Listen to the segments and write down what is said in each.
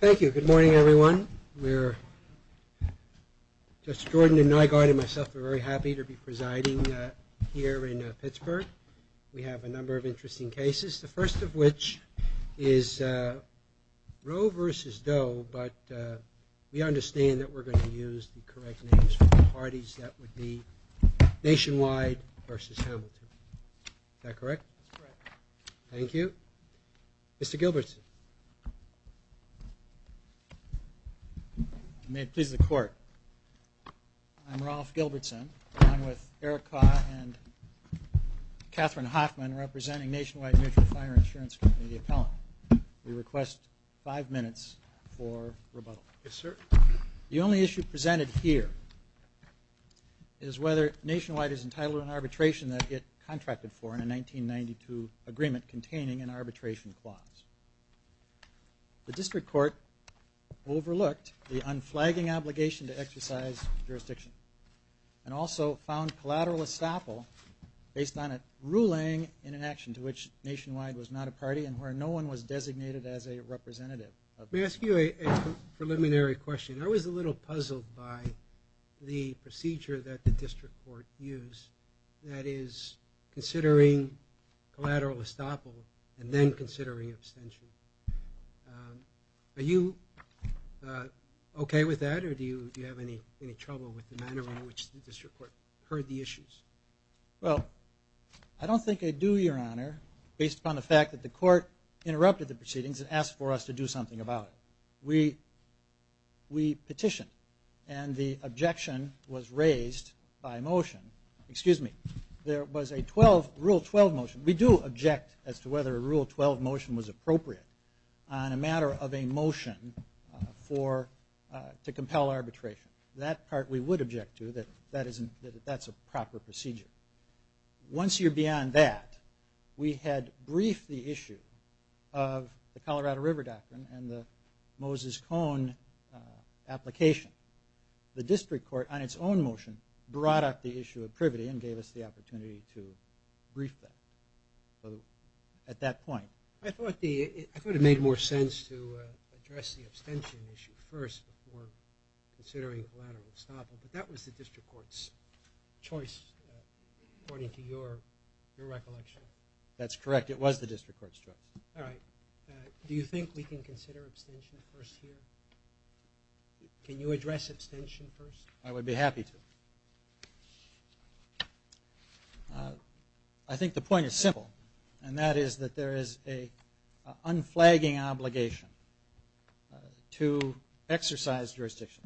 Thank you. Good morning, everyone. We're, Judge Jordan and Nygaard and myself are very happy to be presiding here in Pittsburgh. We have a number of interesting cases, the first of which is Roe v. Doe, but we understand that we're going to use the correct names for the parties. That would be Nationwide v. Hamilton. Is that correct? That's correct. Thank you. Mr. Gilbertson. May it please the Court, I'm Ralph Gilbertson. I'm with Eric Kau and Catherine Hoffman representing Nationwide Mutual Fire Insurance Company, the appellant. We request five minutes for rebuttal. Yes, sir. The only issue presented here is whether Nationwide is entitled to an arbitration that it contracted for in a 1992 agreement containing an arbitration clause. The district court overlooked the unflagging obligation to exercise jurisdiction and also found collateral estoppel based on a ruling in an action to which Nationwide was not a party and where no one was designated as a representative. May I ask you a preliminary question? I was a little puzzled by the procedure that the district court used. That is, considering collateral estoppel and then considering abstention. Are you okay with that or do you have any trouble with the manner in which the district court heard the issues? Well, I don't think I do, Your Honor, based upon the fact that the court interrupted the proceedings and asked for us to do something about it. We petitioned and the objection was raised by motion. Excuse me. There was a Rule 12 motion. We do object as to whether a Rule 12 motion was appropriate on a matter of a motion to compel arbitration. That part we would object to, that that's a proper procedure. Once you're beyond that, we had briefed the issue of the Colorado River Doctrine and the Moses Cone application. The district court, on its own motion, brought up the issue of privity and gave us the opportunity to brief them at that point. I thought it made more sense to address the abstention issue first before considering collateral estoppel, but that was the district court's choice according to your recollection. That's correct. It was the district court's choice. All right. Do you think we can consider abstention first here? Can you address abstention first? I would be happy to. I think the point is simple, and that is that there is an unflagging obligation to exercise jurisdiction.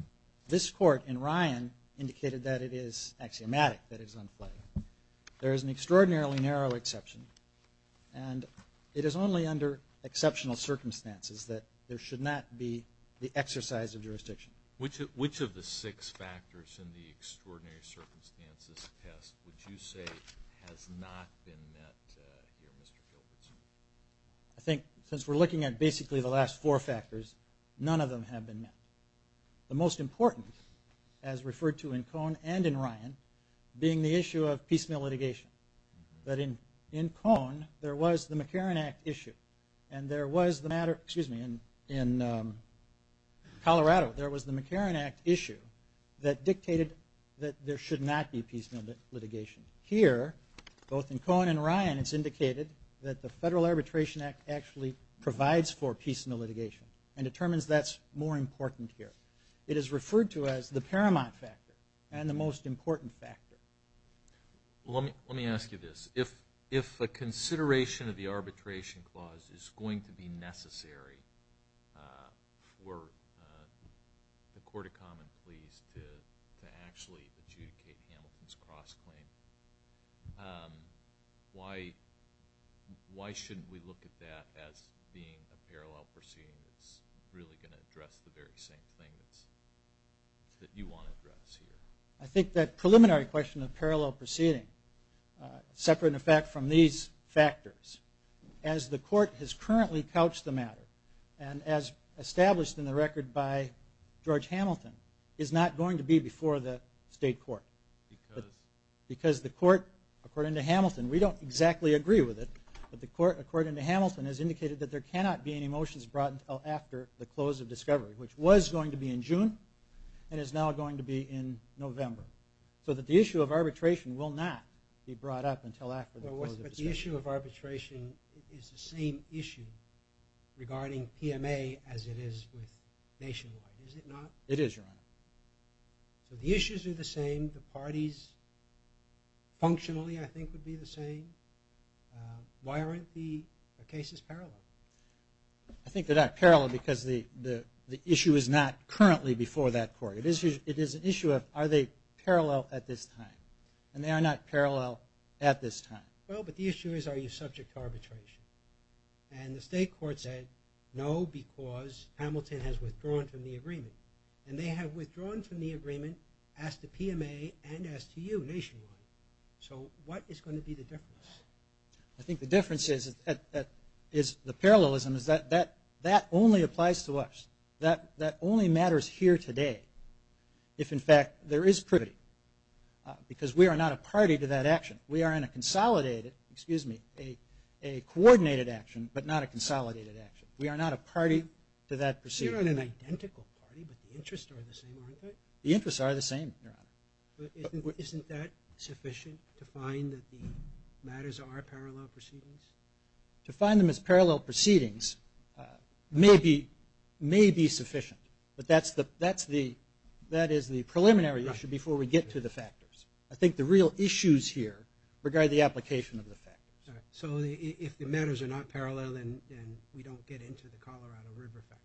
This court in Ryan indicated that it is axiomatic that it is unflagging. There is an extraordinarily narrow exception, and it is only under exceptional circumstances that there should not be the exercise of jurisdiction. Which of the six factors in the extraordinary circumstances test would you say has not been met here, Mr. Gilbertson? I think since we're looking at basically the last four factors, none of them have been met. The most important, as referred to in Cohn and in Ryan, being the issue of piecemeal litigation. In Colorado, there was the McCarran Act issue that dictated that there should not be piecemeal litigation. Here, both in Cohn and in Ryan, it's indicated that the Federal Arbitration Act actually provides for piecemeal litigation and determines that's more important here. It is referred to as the paramount factor and the most important factor. Let me ask you this. If a consideration of the arbitration clause is going to be necessary for the court of common pleas to actually adjudicate Hamilton's cross-claim, why shouldn't we look at that as being a parallel proceeding that's really going to address the very same thing that you want to address here? I think that preliminary question of parallel proceeding, separate in effect from these factors, and as established in the record by George Hamilton, is not going to be before the state court. Because? Because the court, according to Hamilton, we don't exactly agree with it, but the court, according to Hamilton, has indicated that there cannot be any motions brought until after the close of discovery, which was going to be in June and is now going to be in November. So that the issue of arbitration will not be brought up until after the close of discovery. The issue of arbitration is the same issue regarding PMA as it is with nationwide, is it not? It is, Your Honor. So the issues are the same, the parties functionally I think would be the same. Why aren't the cases parallel? I think they're not parallel because the issue is not currently before that court. It is an issue of are they parallel at this time, and they are not parallel at this time. Well, but the issue is are you subject to arbitration? And the state court said no because Hamilton has withdrawn from the agreement. And they have withdrawn from the agreement as to PMA and as to you nationwide. So what is going to be the difference? I think the difference is the parallelism is that that only applies to us. That only matters here today if, in fact, there is privity. Because we are not a party to that action. We are in a consolidated, excuse me, a coordinated action, but not a consolidated action. We are not a party to that proceeding. You're in an identical party, but the interests are the same, aren't they? The interests are the same, Your Honor. But isn't that sufficient to find that the matters are parallel proceedings? To find them as parallel proceedings may be sufficient, but that is the preliminary issue before we get to the factors. I think the real issues here regard the application of the factors. So if the matters are not parallel, then we don't get into the Colorado River factor.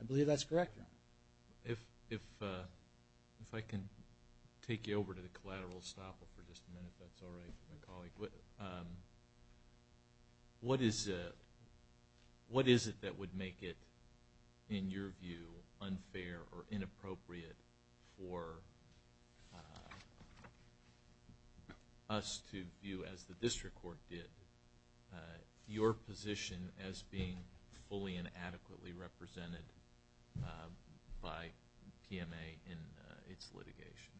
I believe that's correct, Your Honor. If I can take you over to the collateral stopper for just a minute, if that's all right, my colleague. What is it that would make it, in your view, unfair or inappropriate for us to view, as the district court did, your position as being fully and adequately represented by PMA in its litigation?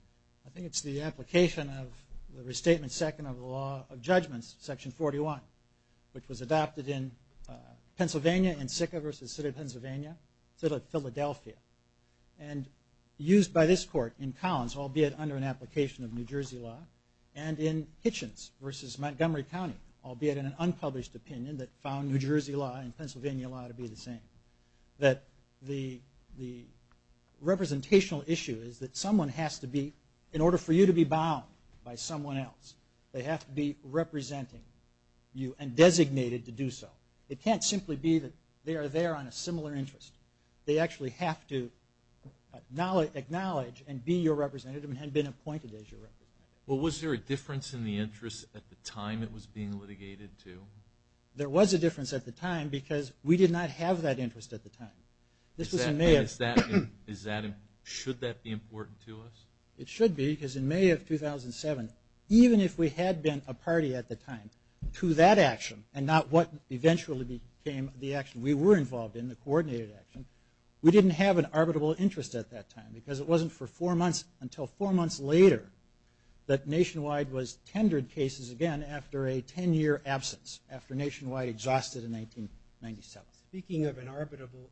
I think it's the application of the Restatement Second of the Law of Judgments, Section 41, which was adopted in Pennsylvania in Sicca v. City of Pennsylvania, City of Philadelphia, and used by this court in Collins, albeit under an application of New Jersey law, and in Hitchens v. Montgomery County, albeit in an unpublished opinion that found New Jersey law and Pennsylvania law to be the same. That the representational issue is that someone has to be, in order for you to be bound by someone else, they have to be representing you and designated to do so. It can't simply be that they are there on a similar interest. They actually have to acknowledge and be your representative and have been appointed as your representative. Well, was there a difference in the interest at the time it was being litigated to? There was a difference at the time because we did not have that interest at the time. Should that be important to us? It should be because in May of 2007, even if we had been a party at the time to that action and not what eventually became the action we were involved in, the coordinated action, we didn't have an arbitrable interest at that time because it wasn't until four months later that Nationwide was tendered cases again after a ten-year absence, after Nationwide exhausted in 1997. Speaking of an arbitrable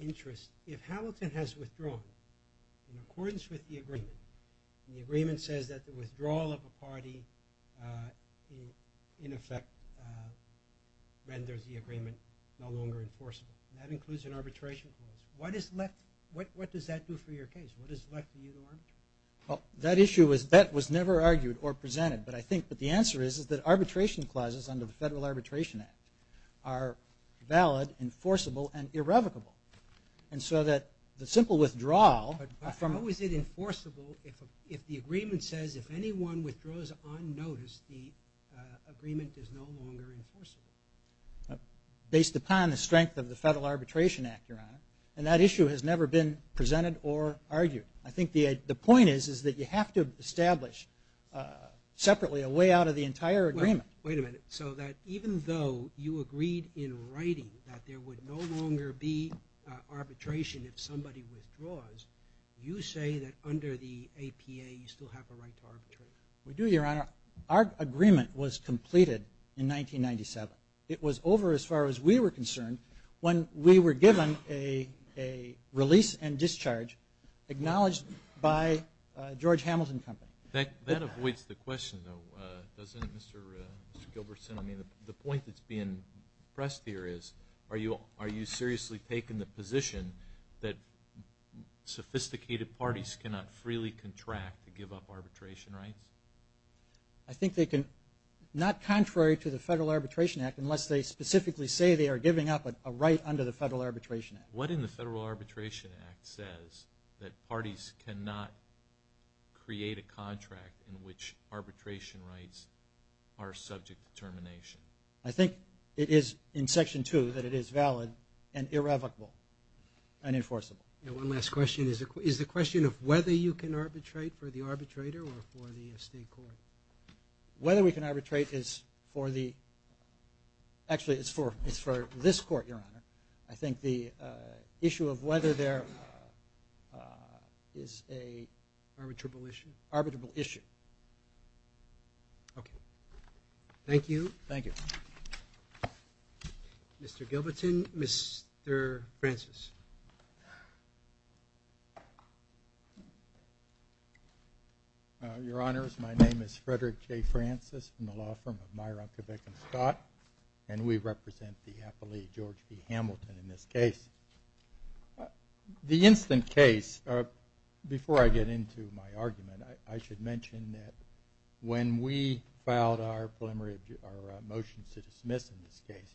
interest, if Hamilton has withdrawn in accordance with the agreement, and the agreement says that the withdrawal of a party in effect renders the agreement no longer enforceable, that includes an arbitration clause, what does that do for your case? What has left you to arbitrate? Well, that issue was never argued or presented, but I think the answer is that arbitration clauses under the Federal Arbitration Act are valid, enforceable, and irrevocable. And so that the simple withdrawal... But how is it enforceable if the agreement says if anyone withdraws on notice, the agreement is no longer enforceable? Based upon the strength of the Federal Arbitration Act, Your Honor, and that issue has never been presented or argued. I think the point is that you have to establish separately a way out of the entire agreement. Wait a minute. So that even though you agreed in writing that there would no longer be arbitration if somebody withdraws, you say that under the APA you still have a right to arbitrate? We do, Your Honor. Our agreement was completed in 1997. It was over as far as we were concerned when we were given a release and discharge acknowledged by George Hamilton Company. That avoids the question, though, doesn't it, Mr. Gilbertson? I mean, the point that's being pressed here is, are you seriously taking the position that sophisticated parties cannot freely contract to give up arbitration rights? I think they can, not contrary to the Federal Arbitration Act, unless they specifically say they are giving up a right under the Federal Arbitration Act. What in the Federal Arbitration Act says that parties cannot create a contract in which arbitration rights are subject to termination? I think it is in Section 2 that it is valid and irrevocable and enforceable. And one last question. Is the question of whether you can arbitrate for the arbitrator or for the state court? Whether we can arbitrate is for the – actually, it's for this court, Your Honor. I think the issue of whether there is a… Arbitrable issue? Arbitrable issue. Okay. Thank you. Thank you. Mr. Gilbertson, Mr. Francis. Your Honors, my name is Frederick J. Francis from the law firm of Myron, Quebec & Scott, and we represent the appellee, George B. Hamilton, in this case. The instant case, before I get into my argument, I should mention that when we filed our motion to dismiss in this case,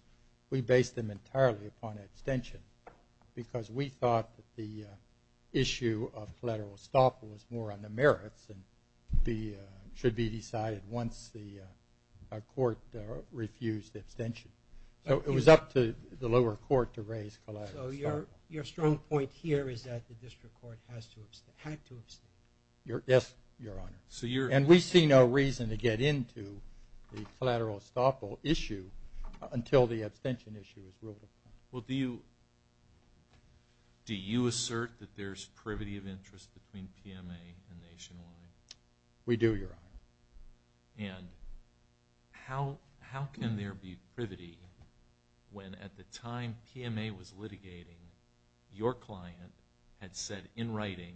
we based them entirely upon abstention because we thought that the issue of collateral estoppel was more on the merits and should be decided once the court refused abstention. So it was up to the lower court to raise collateral estoppel. So your strong point here is that the district court had to abstain. Yes, Your Honor. And we see no reason to get into the collateral estoppel issue until the abstention issue is ruled upon. Well, do you assert that there's privity of interest between PMA and Nationwide? We do, Your Honor. And how can there be privity when at the time PMA was litigating, your client had said in writing,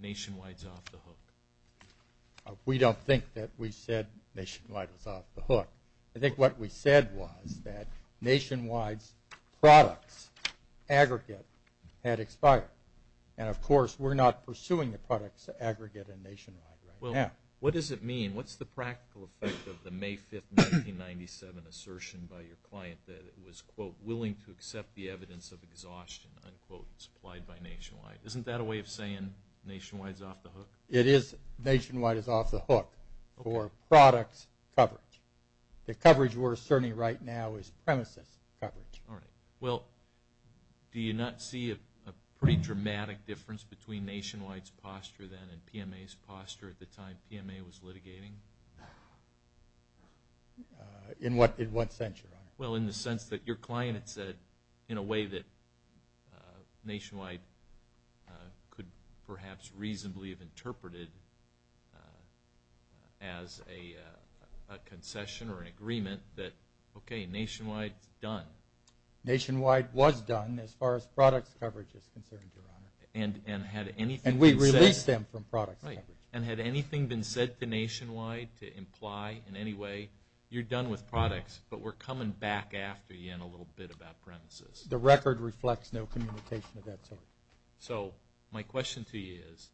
Nationwide's off the hook? We don't think that we said Nationwide was off the hook. I think what we said was that Nationwide's products aggregate had expired. And, of course, we're not pursuing the products aggregate in Nationwide right now. Well, what does it mean? What's the practical effect of the May 5, 1997 assertion by your client that it was, quote, willing to accept the evidence of exhaustion, unquote, supplied by Nationwide? Isn't that a way of saying Nationwide's off the hook? It is. Nationwide is off the hook for products coverage. The coverage we're asserting right now is premises coverage. All right. Well, do you not see a pretty dramatic difference between Nationwide's posture then and PMA's posture at the time PMA was litigating? In what sense, Your Honor? Well, in the sense that your client had said in a way that Nationwide could perhaps reasonably have interpreted as a concession or an agreement that, okay, Nationwide's done. Nationwide was done as far as products coverage is concerned, Your Honor. And had anything been said to Nationwide to imply in any way, you're done with products, but we're coming back after you in a little bit about premises. The record reflects no communication of that sort. So my question to you is,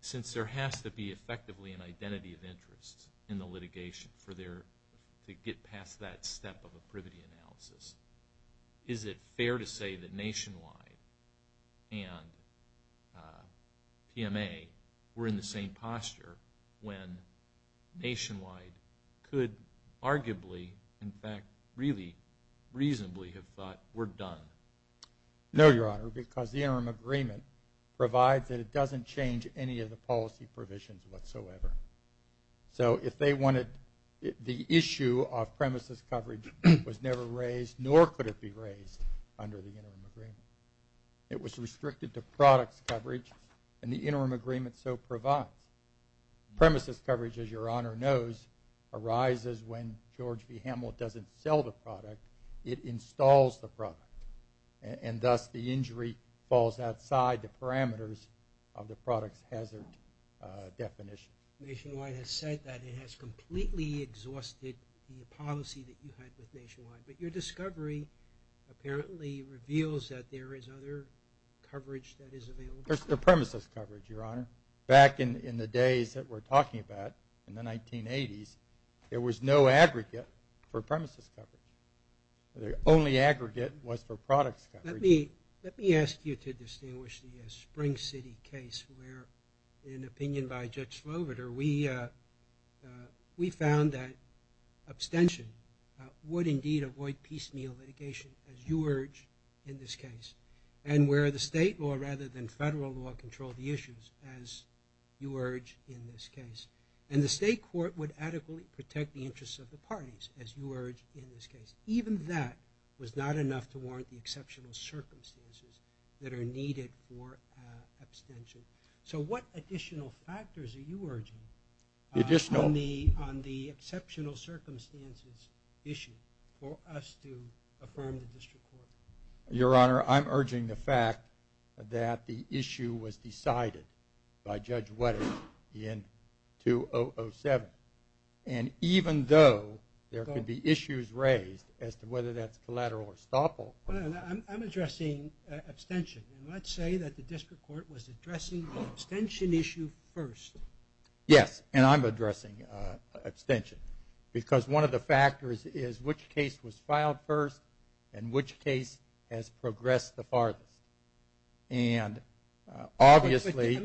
since there has to be effectively an identity of interest in the litigation to get past that step of a privity analysis, is it fair to say that Nationwide and PMA were in the same posture when Nationwide could arguably, in fact, really reasonably have thought we're done? No, Your Honor, because the interim agreement provides that it doesn't change any of the policy provisions whatsoever. So if they wanted the issue of premises coverage was never raised, nor could it be raised under the interim agreement. It was restricted to products coverage, and the interim agreement so provides. Premises coverage, as Your Honor knows, arises when George B. Hamill doesn't sell the product, it installs the product, and thus the injury falls outside the parameters of the products hazard definition. Nationwide has said that it has completely exhausted the policy that you had with Nationwide, but your discovery apparently reveals that there is other coverage that is available. There's no premises coverage, Your Honor. Back in the days that we're talking about, in the 1980s, there was no aggregate for premises coverage. The only aggregate was for products coverage. Let me ask you to distinguish the Spring City case where, in opinion by Judge Sloviter, we found that abstention would indeed avoid piecemeal litigation, as you urge in this case, and where the state law rather than federal law controlled the issues, as you urge in this case. And the state court would adequately protect the interests of the parties, as you urge in this case. Even that was not enough to warrant the exceptional circumstances that are needed for abstention. So what additional factors are you urging on the exceptional circumstances issue for us to affirm the district court? Your Honor, I'm urging the fact that the issue was decided by Judge Wetter in 2007. And even though there could be issues raised as to whether that's collateral or estoppel. I'm addressing abstention. And let's say that the district court was addressing the abstention issue first. Yes, and I'm addressing abstention. Because one of the factors is which case was filed first and which case has progressed the farthest. And obviously,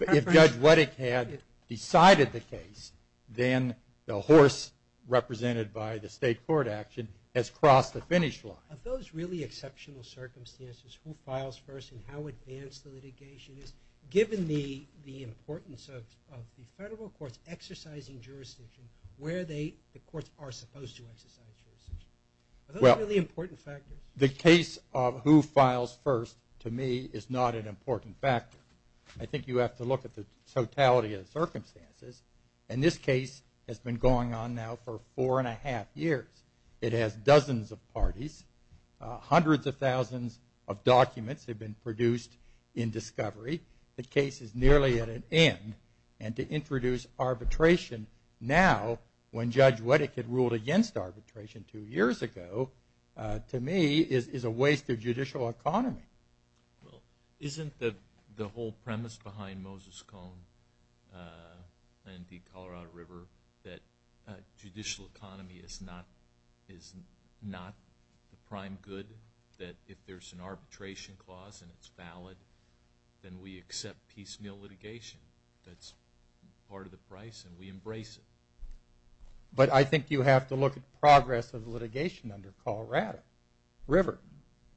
if Judge Wetter had decided the case, then the horse represented by the state court action has crossed the finish line. Of those really exceptional circumstances, who files first and how advanced the litigation is, given the importance of the federal courts exercising jurisdiction where the courts are supposed to exercise jurisdiction. Are those really important factors? The case of who files first, to me, is not an important factor. I think you have to look at the totality of the circumstances. And this case has been going on now for four and a half years. It has dozens of parties. Hundreds of thousands of documents have been produced in discovery. The case is nearly at an end. And to introduce arbitration now when Judge Wetter had ruled against arbitration two years ago, to me, is a waste of judicial economy. Well, isn't the whole premise behind Moses Cone and the Colorado River that judicial economy is not the prime good, that if there's an arbitration clause and it's valid, then we accept piecemeal litigation. That's part of the price and we embrace it. But I think you have to look at progress of the litigation under Colorado River.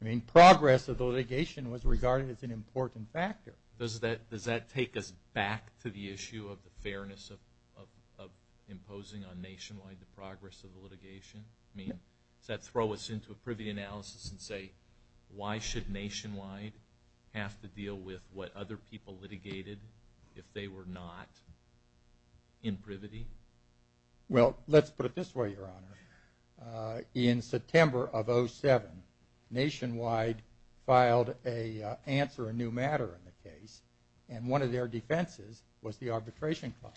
I mean, progress of the litigation was regarded as an important factor. Does that take us back to the issue of the fairness of imposing on Nationwide the progress of the litigation? I mean, does that throw us into a privity analysis and say, why should Nationwide have to deal with what other people litigated if they were not in privity? Well, let's put it this way, Your Honor. In September of 2007, Nationwide filed an answer, a new matter in the case, and one of their defenses was the arbitration clause.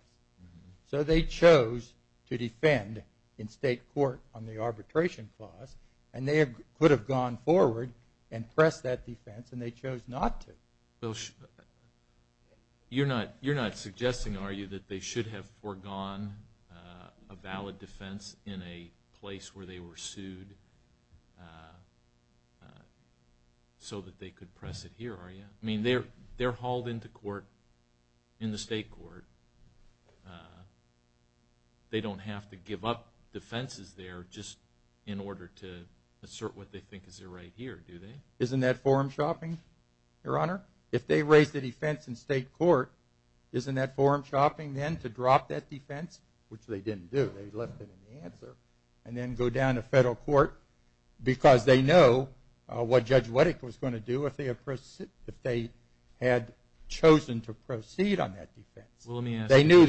So they chose to defend in state court on the arbitration clause, and they could have gone forward and pressed that defense, and they chose not to. You're not suggesting, are you, that they should have foregone a valid defense in a place where they were sued so that they could press it here, are you? I mean, they're hauled into court in the state court. They don't have to give up defenses there just in order to assert what they think is right here, do they? Isn't that form shopping, Your Honor? If they raise the defense in state court, isn't that form shopping then to drop that defense, which they didn't do, they left it in the answer, and then go down to federal court because they know what Judge Wettick was going to do if they had chosen to proceed on that defense. They knew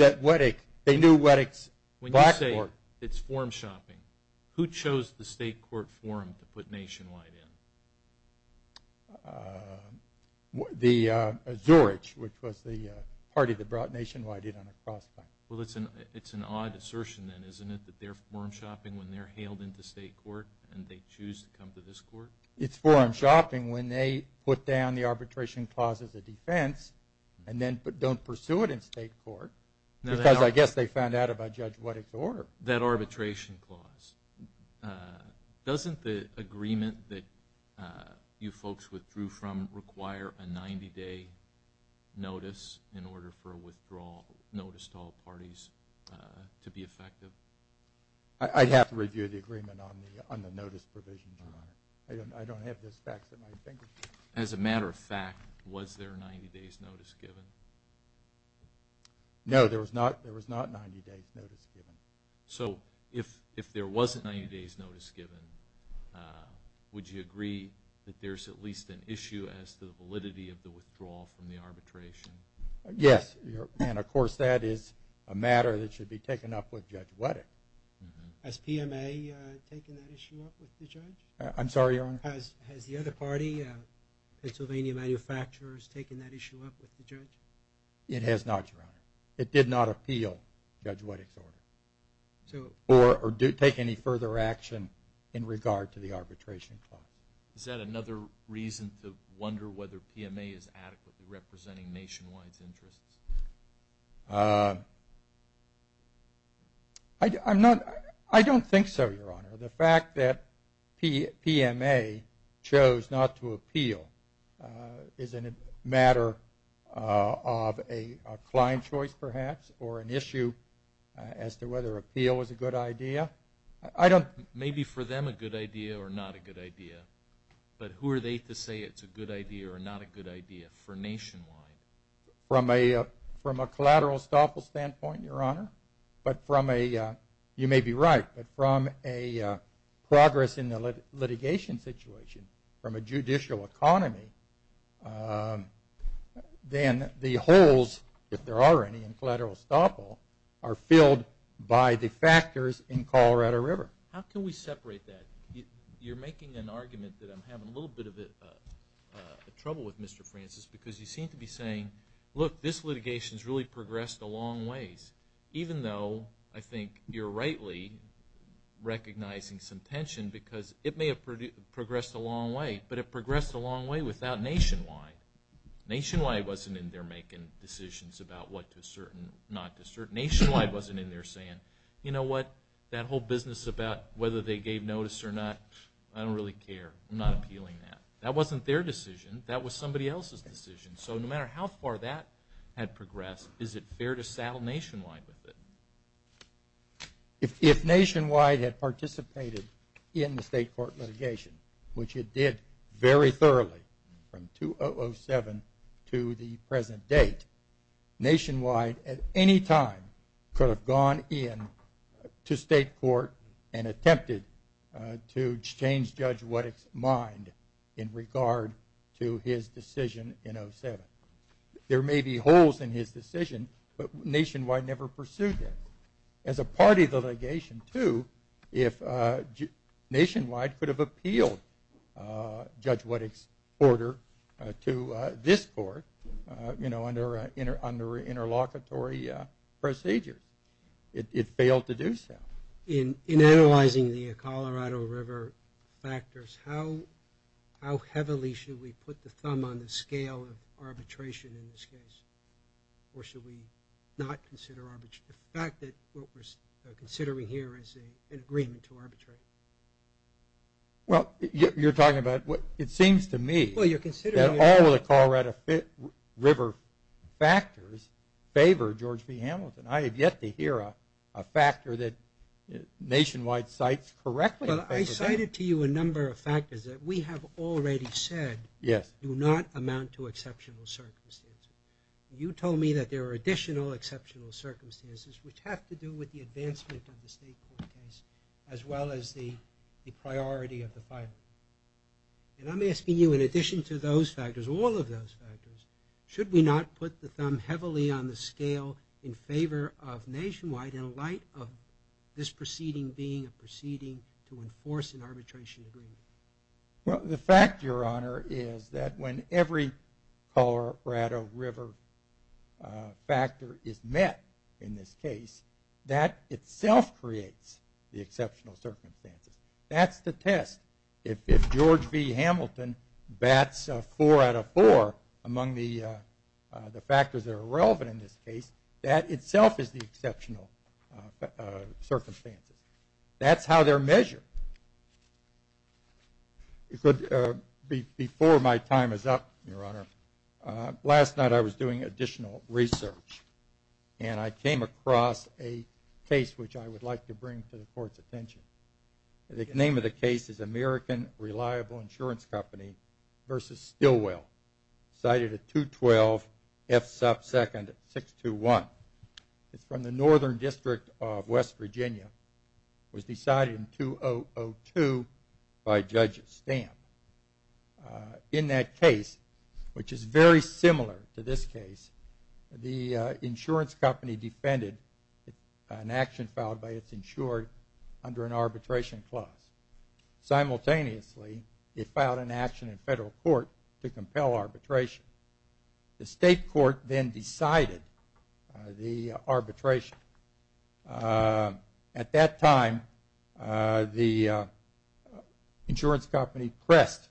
Wettick's blackboard. It's form shopping. Who chose the state court forum to put Nationwide in? Zorich, which was the party that brought Nationwide in on a crossfire. Well, it's an odd assertion then, isn't it, that they're form shopping when they're hailed into state court and they choose to come to this court? It's form shopping when they put down the arbitration clause as a defense and then don't pursue it in state court because I guess they found out about Judge Wettick's order. That arbitration clause, doesn't the agreement that you folks withdrew from require a 90-day notice in order for a withdrawal notice to all parties to be effective? I'd have to review the agreement on the notice provision, Your Honor. I don't have those facts at my fingertips. As a matter of fact, was there a 90-day notice given? No, there was not a 90-day notice given. So if there wasn't a 90-day notice given, would you agree that there's at least an issue as to the validity of the withdrawal from the arbitration? Yes, and of course that is a matter that should be taken up with Judge Wettick. Has PMA taken that issue up with the judge? I'm sorry, Your Honor? Has the other party, Pennsylvania Manufacturers, taken that issue up with the judge? It has not, Your Honor. It did not appeal Judge Wettick's order or take any further action in regard to the arbitration clause. Is that another reason to wonder whether PMA is adequately representing nationwide's interests? I don't think so, Your Honor. The fact that PMA chose not to appeal is a matter of a client choice perhaps or an issue as to whether appeal was a good idea. Maybe for them a good idea or not a good idea, but who are they to say it's a good idea or not a good idea for nationwide? From a collateral estoppel standpoint, Your Honor, but from a – you may be right, but from a progress in the litigation situation from a judicial economy, then the holes, if there are any, in collateral estoppel are filled by the factors in Colorado River. How can we separate that? You're making an argument that I'm having a little bit of trouble with, Mr. Francis, because you seem to be saying, look, this litigation has really progressed a long ways, even though I think you're rightly recognizing some tension because it may have progressed a long way, but it progressed a long way without nationwide. Nationwide wasn't in there making decisions about what to assert and not to assert. Nationwide wasn't in there saying, you know what, that whole business about whether they gave notice or not, I don't really care. I'm not appealing that. That wasn't their decision. That was somebody else's decision. So no matter how far that had progressed, is it fair to saddle nationwide with it? If nationwide had participated in the state court litigation, which it did very thoroughly from 2007 to the present date, nationwide at any time could have gone in to state court and attempted to change Judge Wettick's mind in regard to his decision in 2007. There may be holes in his decision, but nationwide never pursued that. As a part of the litigation, too, if nationwide could have appealed Judge Wettick's order to this court, you know, under interlocutory procedures, it failed to do so. In analyzing the Colorado River factors, how heavily should we put the thumb on the scale of arbitration in this case? Or should we not consider arbitration? The fact that what we're considering here is an agreement to arbitrate. Well, you're talking about what it seems to me that all of the Colorado River factors favor George B. Hamilton. I have yet to hear a factor that nationwide cites correctly. Well, I cited to you a number of factors that we have already said do not amount to exceptional circumstances. You told me that there are additional exceptional circumstances, which have to do with the advancement of the state court case, as well as the priority of the file. And I'm asking you, in addition to those factors, all of those factors, should we not put the thumb heavily on the scale in favor of nationwide in light of this proceeding being a proceeding to enforce an arbitration agreement? Well, the fact, Your Honor, is that when every Colorado River factor is met in this case, that itself creates the exceptional circumstances. That's the test. If George B. Hamilton bats a four out of four among the factors that are relevant in this case, that itself is the exceptional circumstances. That's how they're measured. Before my time is up, Your Honor, last night I was doing additional research, and I came across a case which I would like to bring to the Court's attention. The name of the case is American Reliable Insurance Company v. Stillwell, cited at 212 F. Supp. 2nd. 621. It's from the Northern District of West Virginia. It was decided in 2002 by Judge Stamp. In that case, which is very similar to this case, the insurance company defended an action filed by its insured under an arbitration clause. Simultaneously, it filed an action in federal court to compel arbitration. The state court then decided the arbitration. At that time, the insurance company pressed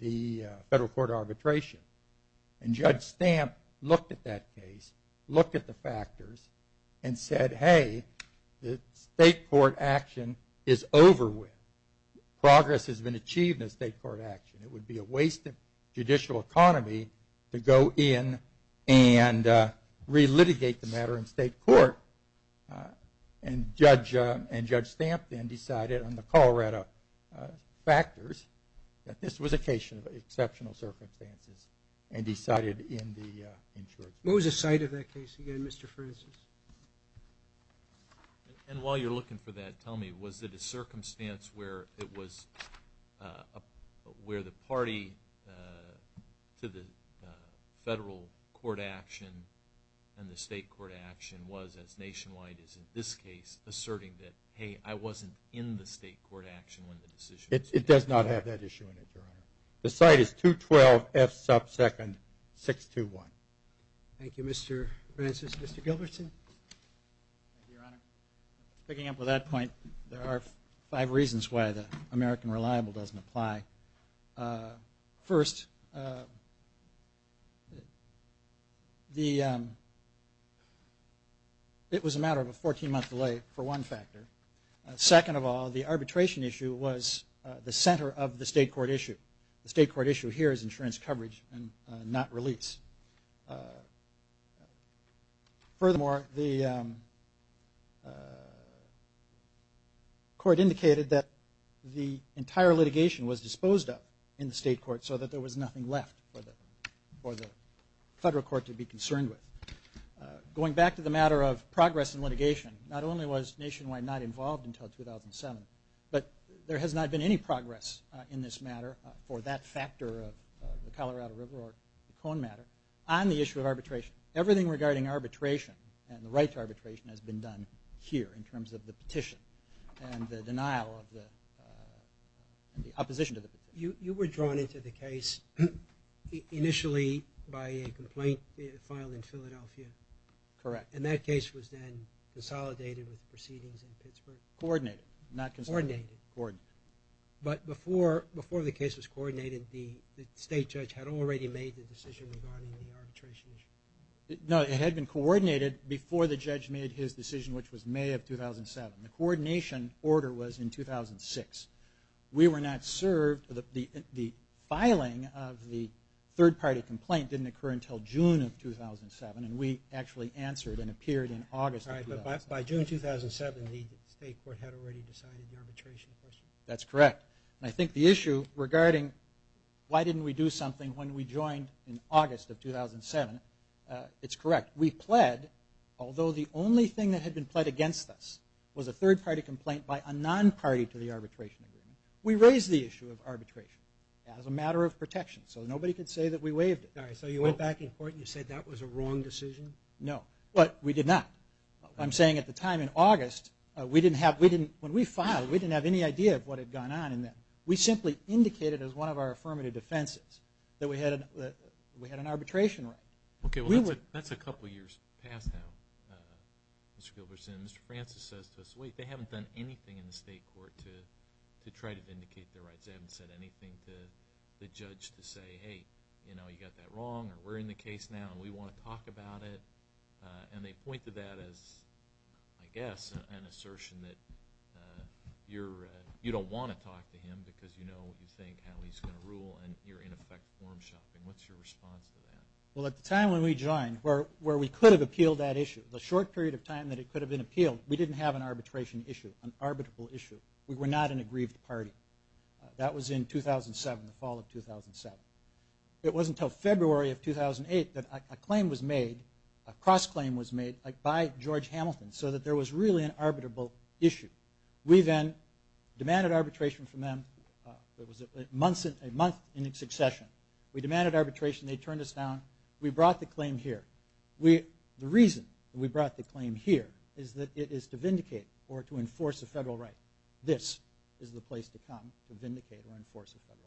the federal court arbitration, and Judge Stamp looked at that case, looked at the factors, and said, hey, the state court action is over with. Progress has been achieved in the state court action. It would be a waste of judicial economy to go in and re-litigate the matter in state court. And Judge Stamp then decided on the Colorado factors that this was a case of exceptional circumstances, and decided in the insurance company. What was the site of that case again, Mr. Francis? And while you're looking for that, tell me, was it a circumstance where it was where the party to the federal court action and the state court action was, as nationwide is in this case, asserting that, hey, I wasn't in the state court action when the decision was made? It does not have that issue in it, Your Honor. The site is 212 F. Sub. 2nd. 621. Thank you, Mr. Francis. Mr. Gilbertson? Thank you, Your Honor. Picking up on that point, there are five reasons why the American Reliable doesn't apply. First, it was a matter of a 14-month delay for one factor. Second of all, the arbitration issue was the center of the state court issue. The state court issue here is insurance coverage and not release. Furthermore, the court indicated that the entire litigation was disposed of in the state court so that there was nothing left for the federal court to be concerned with. Going back to the matter of progress in litigation, not only was Nationwide not involved until 2007, but there has not been any progress in this matter for that factor of the Colorado River or the cone matter on the issue of arbitration. Everything regarding arbitration and the right to arbitration has been done here in terms of the petition and the denial of the opposition to the petition. You were drawn into the case initially by a complaint filed in Philadelphia. Correct. And that case was then consolidated with proceedings in Pittsburgh? Coordinated, not consolidated. Coordinated. But before the case was coordinated, the state judge had already made the decision regarding the arbitration issue? No, it had been coordinated before the judge made his decision, which was May of 2007. The coordination order was in 2006. We were not served. The filing of the third-party complaint didn't occur until June of 2007, and we actually answered and appeared in August of 2007. All right, but by June 2007, the state court had already decided the arbitration question? That's correct. And I think the issue regarding why didn't we do something when we joined in August of 2007, it's correct. We pled, although the only thing that had been pled against us was a third-party complaint by a non-party to the arbitration agreement, we raised the issue of arbitration as a matter of protection, so nobody could say that we waived it. All right, so you went back in court and you said that was a wrong decision? No. But we did not. I'm saying at the time in August, when we filed, we didn't have any idea of what had gone on, and we simply indicated as one of our affirmative defenses that we had an arbitration right. Okay, well, that's a couple years past now, Mr. Gilbertson. Mr. Francis says to us, wait, they haven't done anything in the state court to try to indicate their rights. They haven't said anything to the judge to say, hey, you know, you got that wrong, or we're in the case now and we want to talk about it. And they point to that as, I guess, an assertion that you don't want to talk to him because you know what you think, how he's going to rule, and you're in effect form shopping. What's your response to that? Well, at the time when we joined, where we could have appealed that issue, the short period of time that it could have been appealed, we didn't have an arbitration issue, an arbitrable issue. We were not an aggrieved party. That was in 2007, the fall of 2007. It wasn't until February of 2008 that a claim was made, a cross-claim was made by George Hamilton so that there was really an arbitrable issue. We then demanded arbitration from them. It was a month in succession. We demanded arbitration. They turned us down. We brought the claim here. The reason we brought the claim here is that it is to vindicate or to enforce a federal right. This is the place to come, to vindicate or enforce a federal right.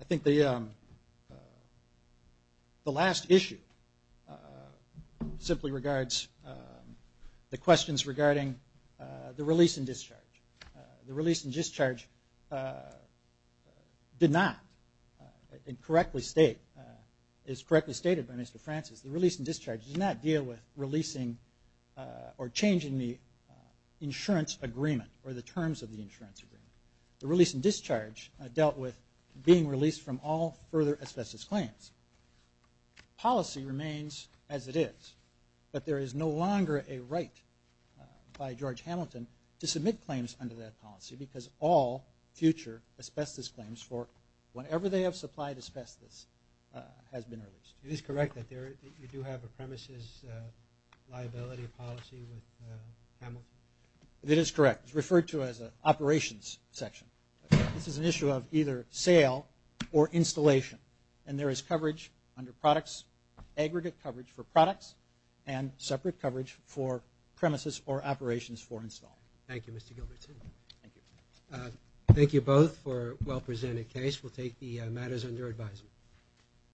I think the last issue simply regards the questions regarding the release and discharge. The release and discharge did not, and is correctly stated by Mr. Francis, the release and discharge does not deal with releasing or changing the insurance agreement or the terms of the insurance agreement. The release and discharge dealt with being released from all further asbestos claims. Policy remains as it is, but there is no longer a right by George Hamilton to submit claims under that policy because all future asbestos claims for whenever they have supplied asbestos has been released. It is correct that you do have a premises liability policy with Hamilton? It is correct. It's referred to as an operations section. This is an issue of either sale or installation, and there is aggregate coverage for products and separate coverage for premises or operations for install. Thank you, Mr. Gilbertson. Thank you. Thank you both for a well-presented case. We'll take the matters under advisement.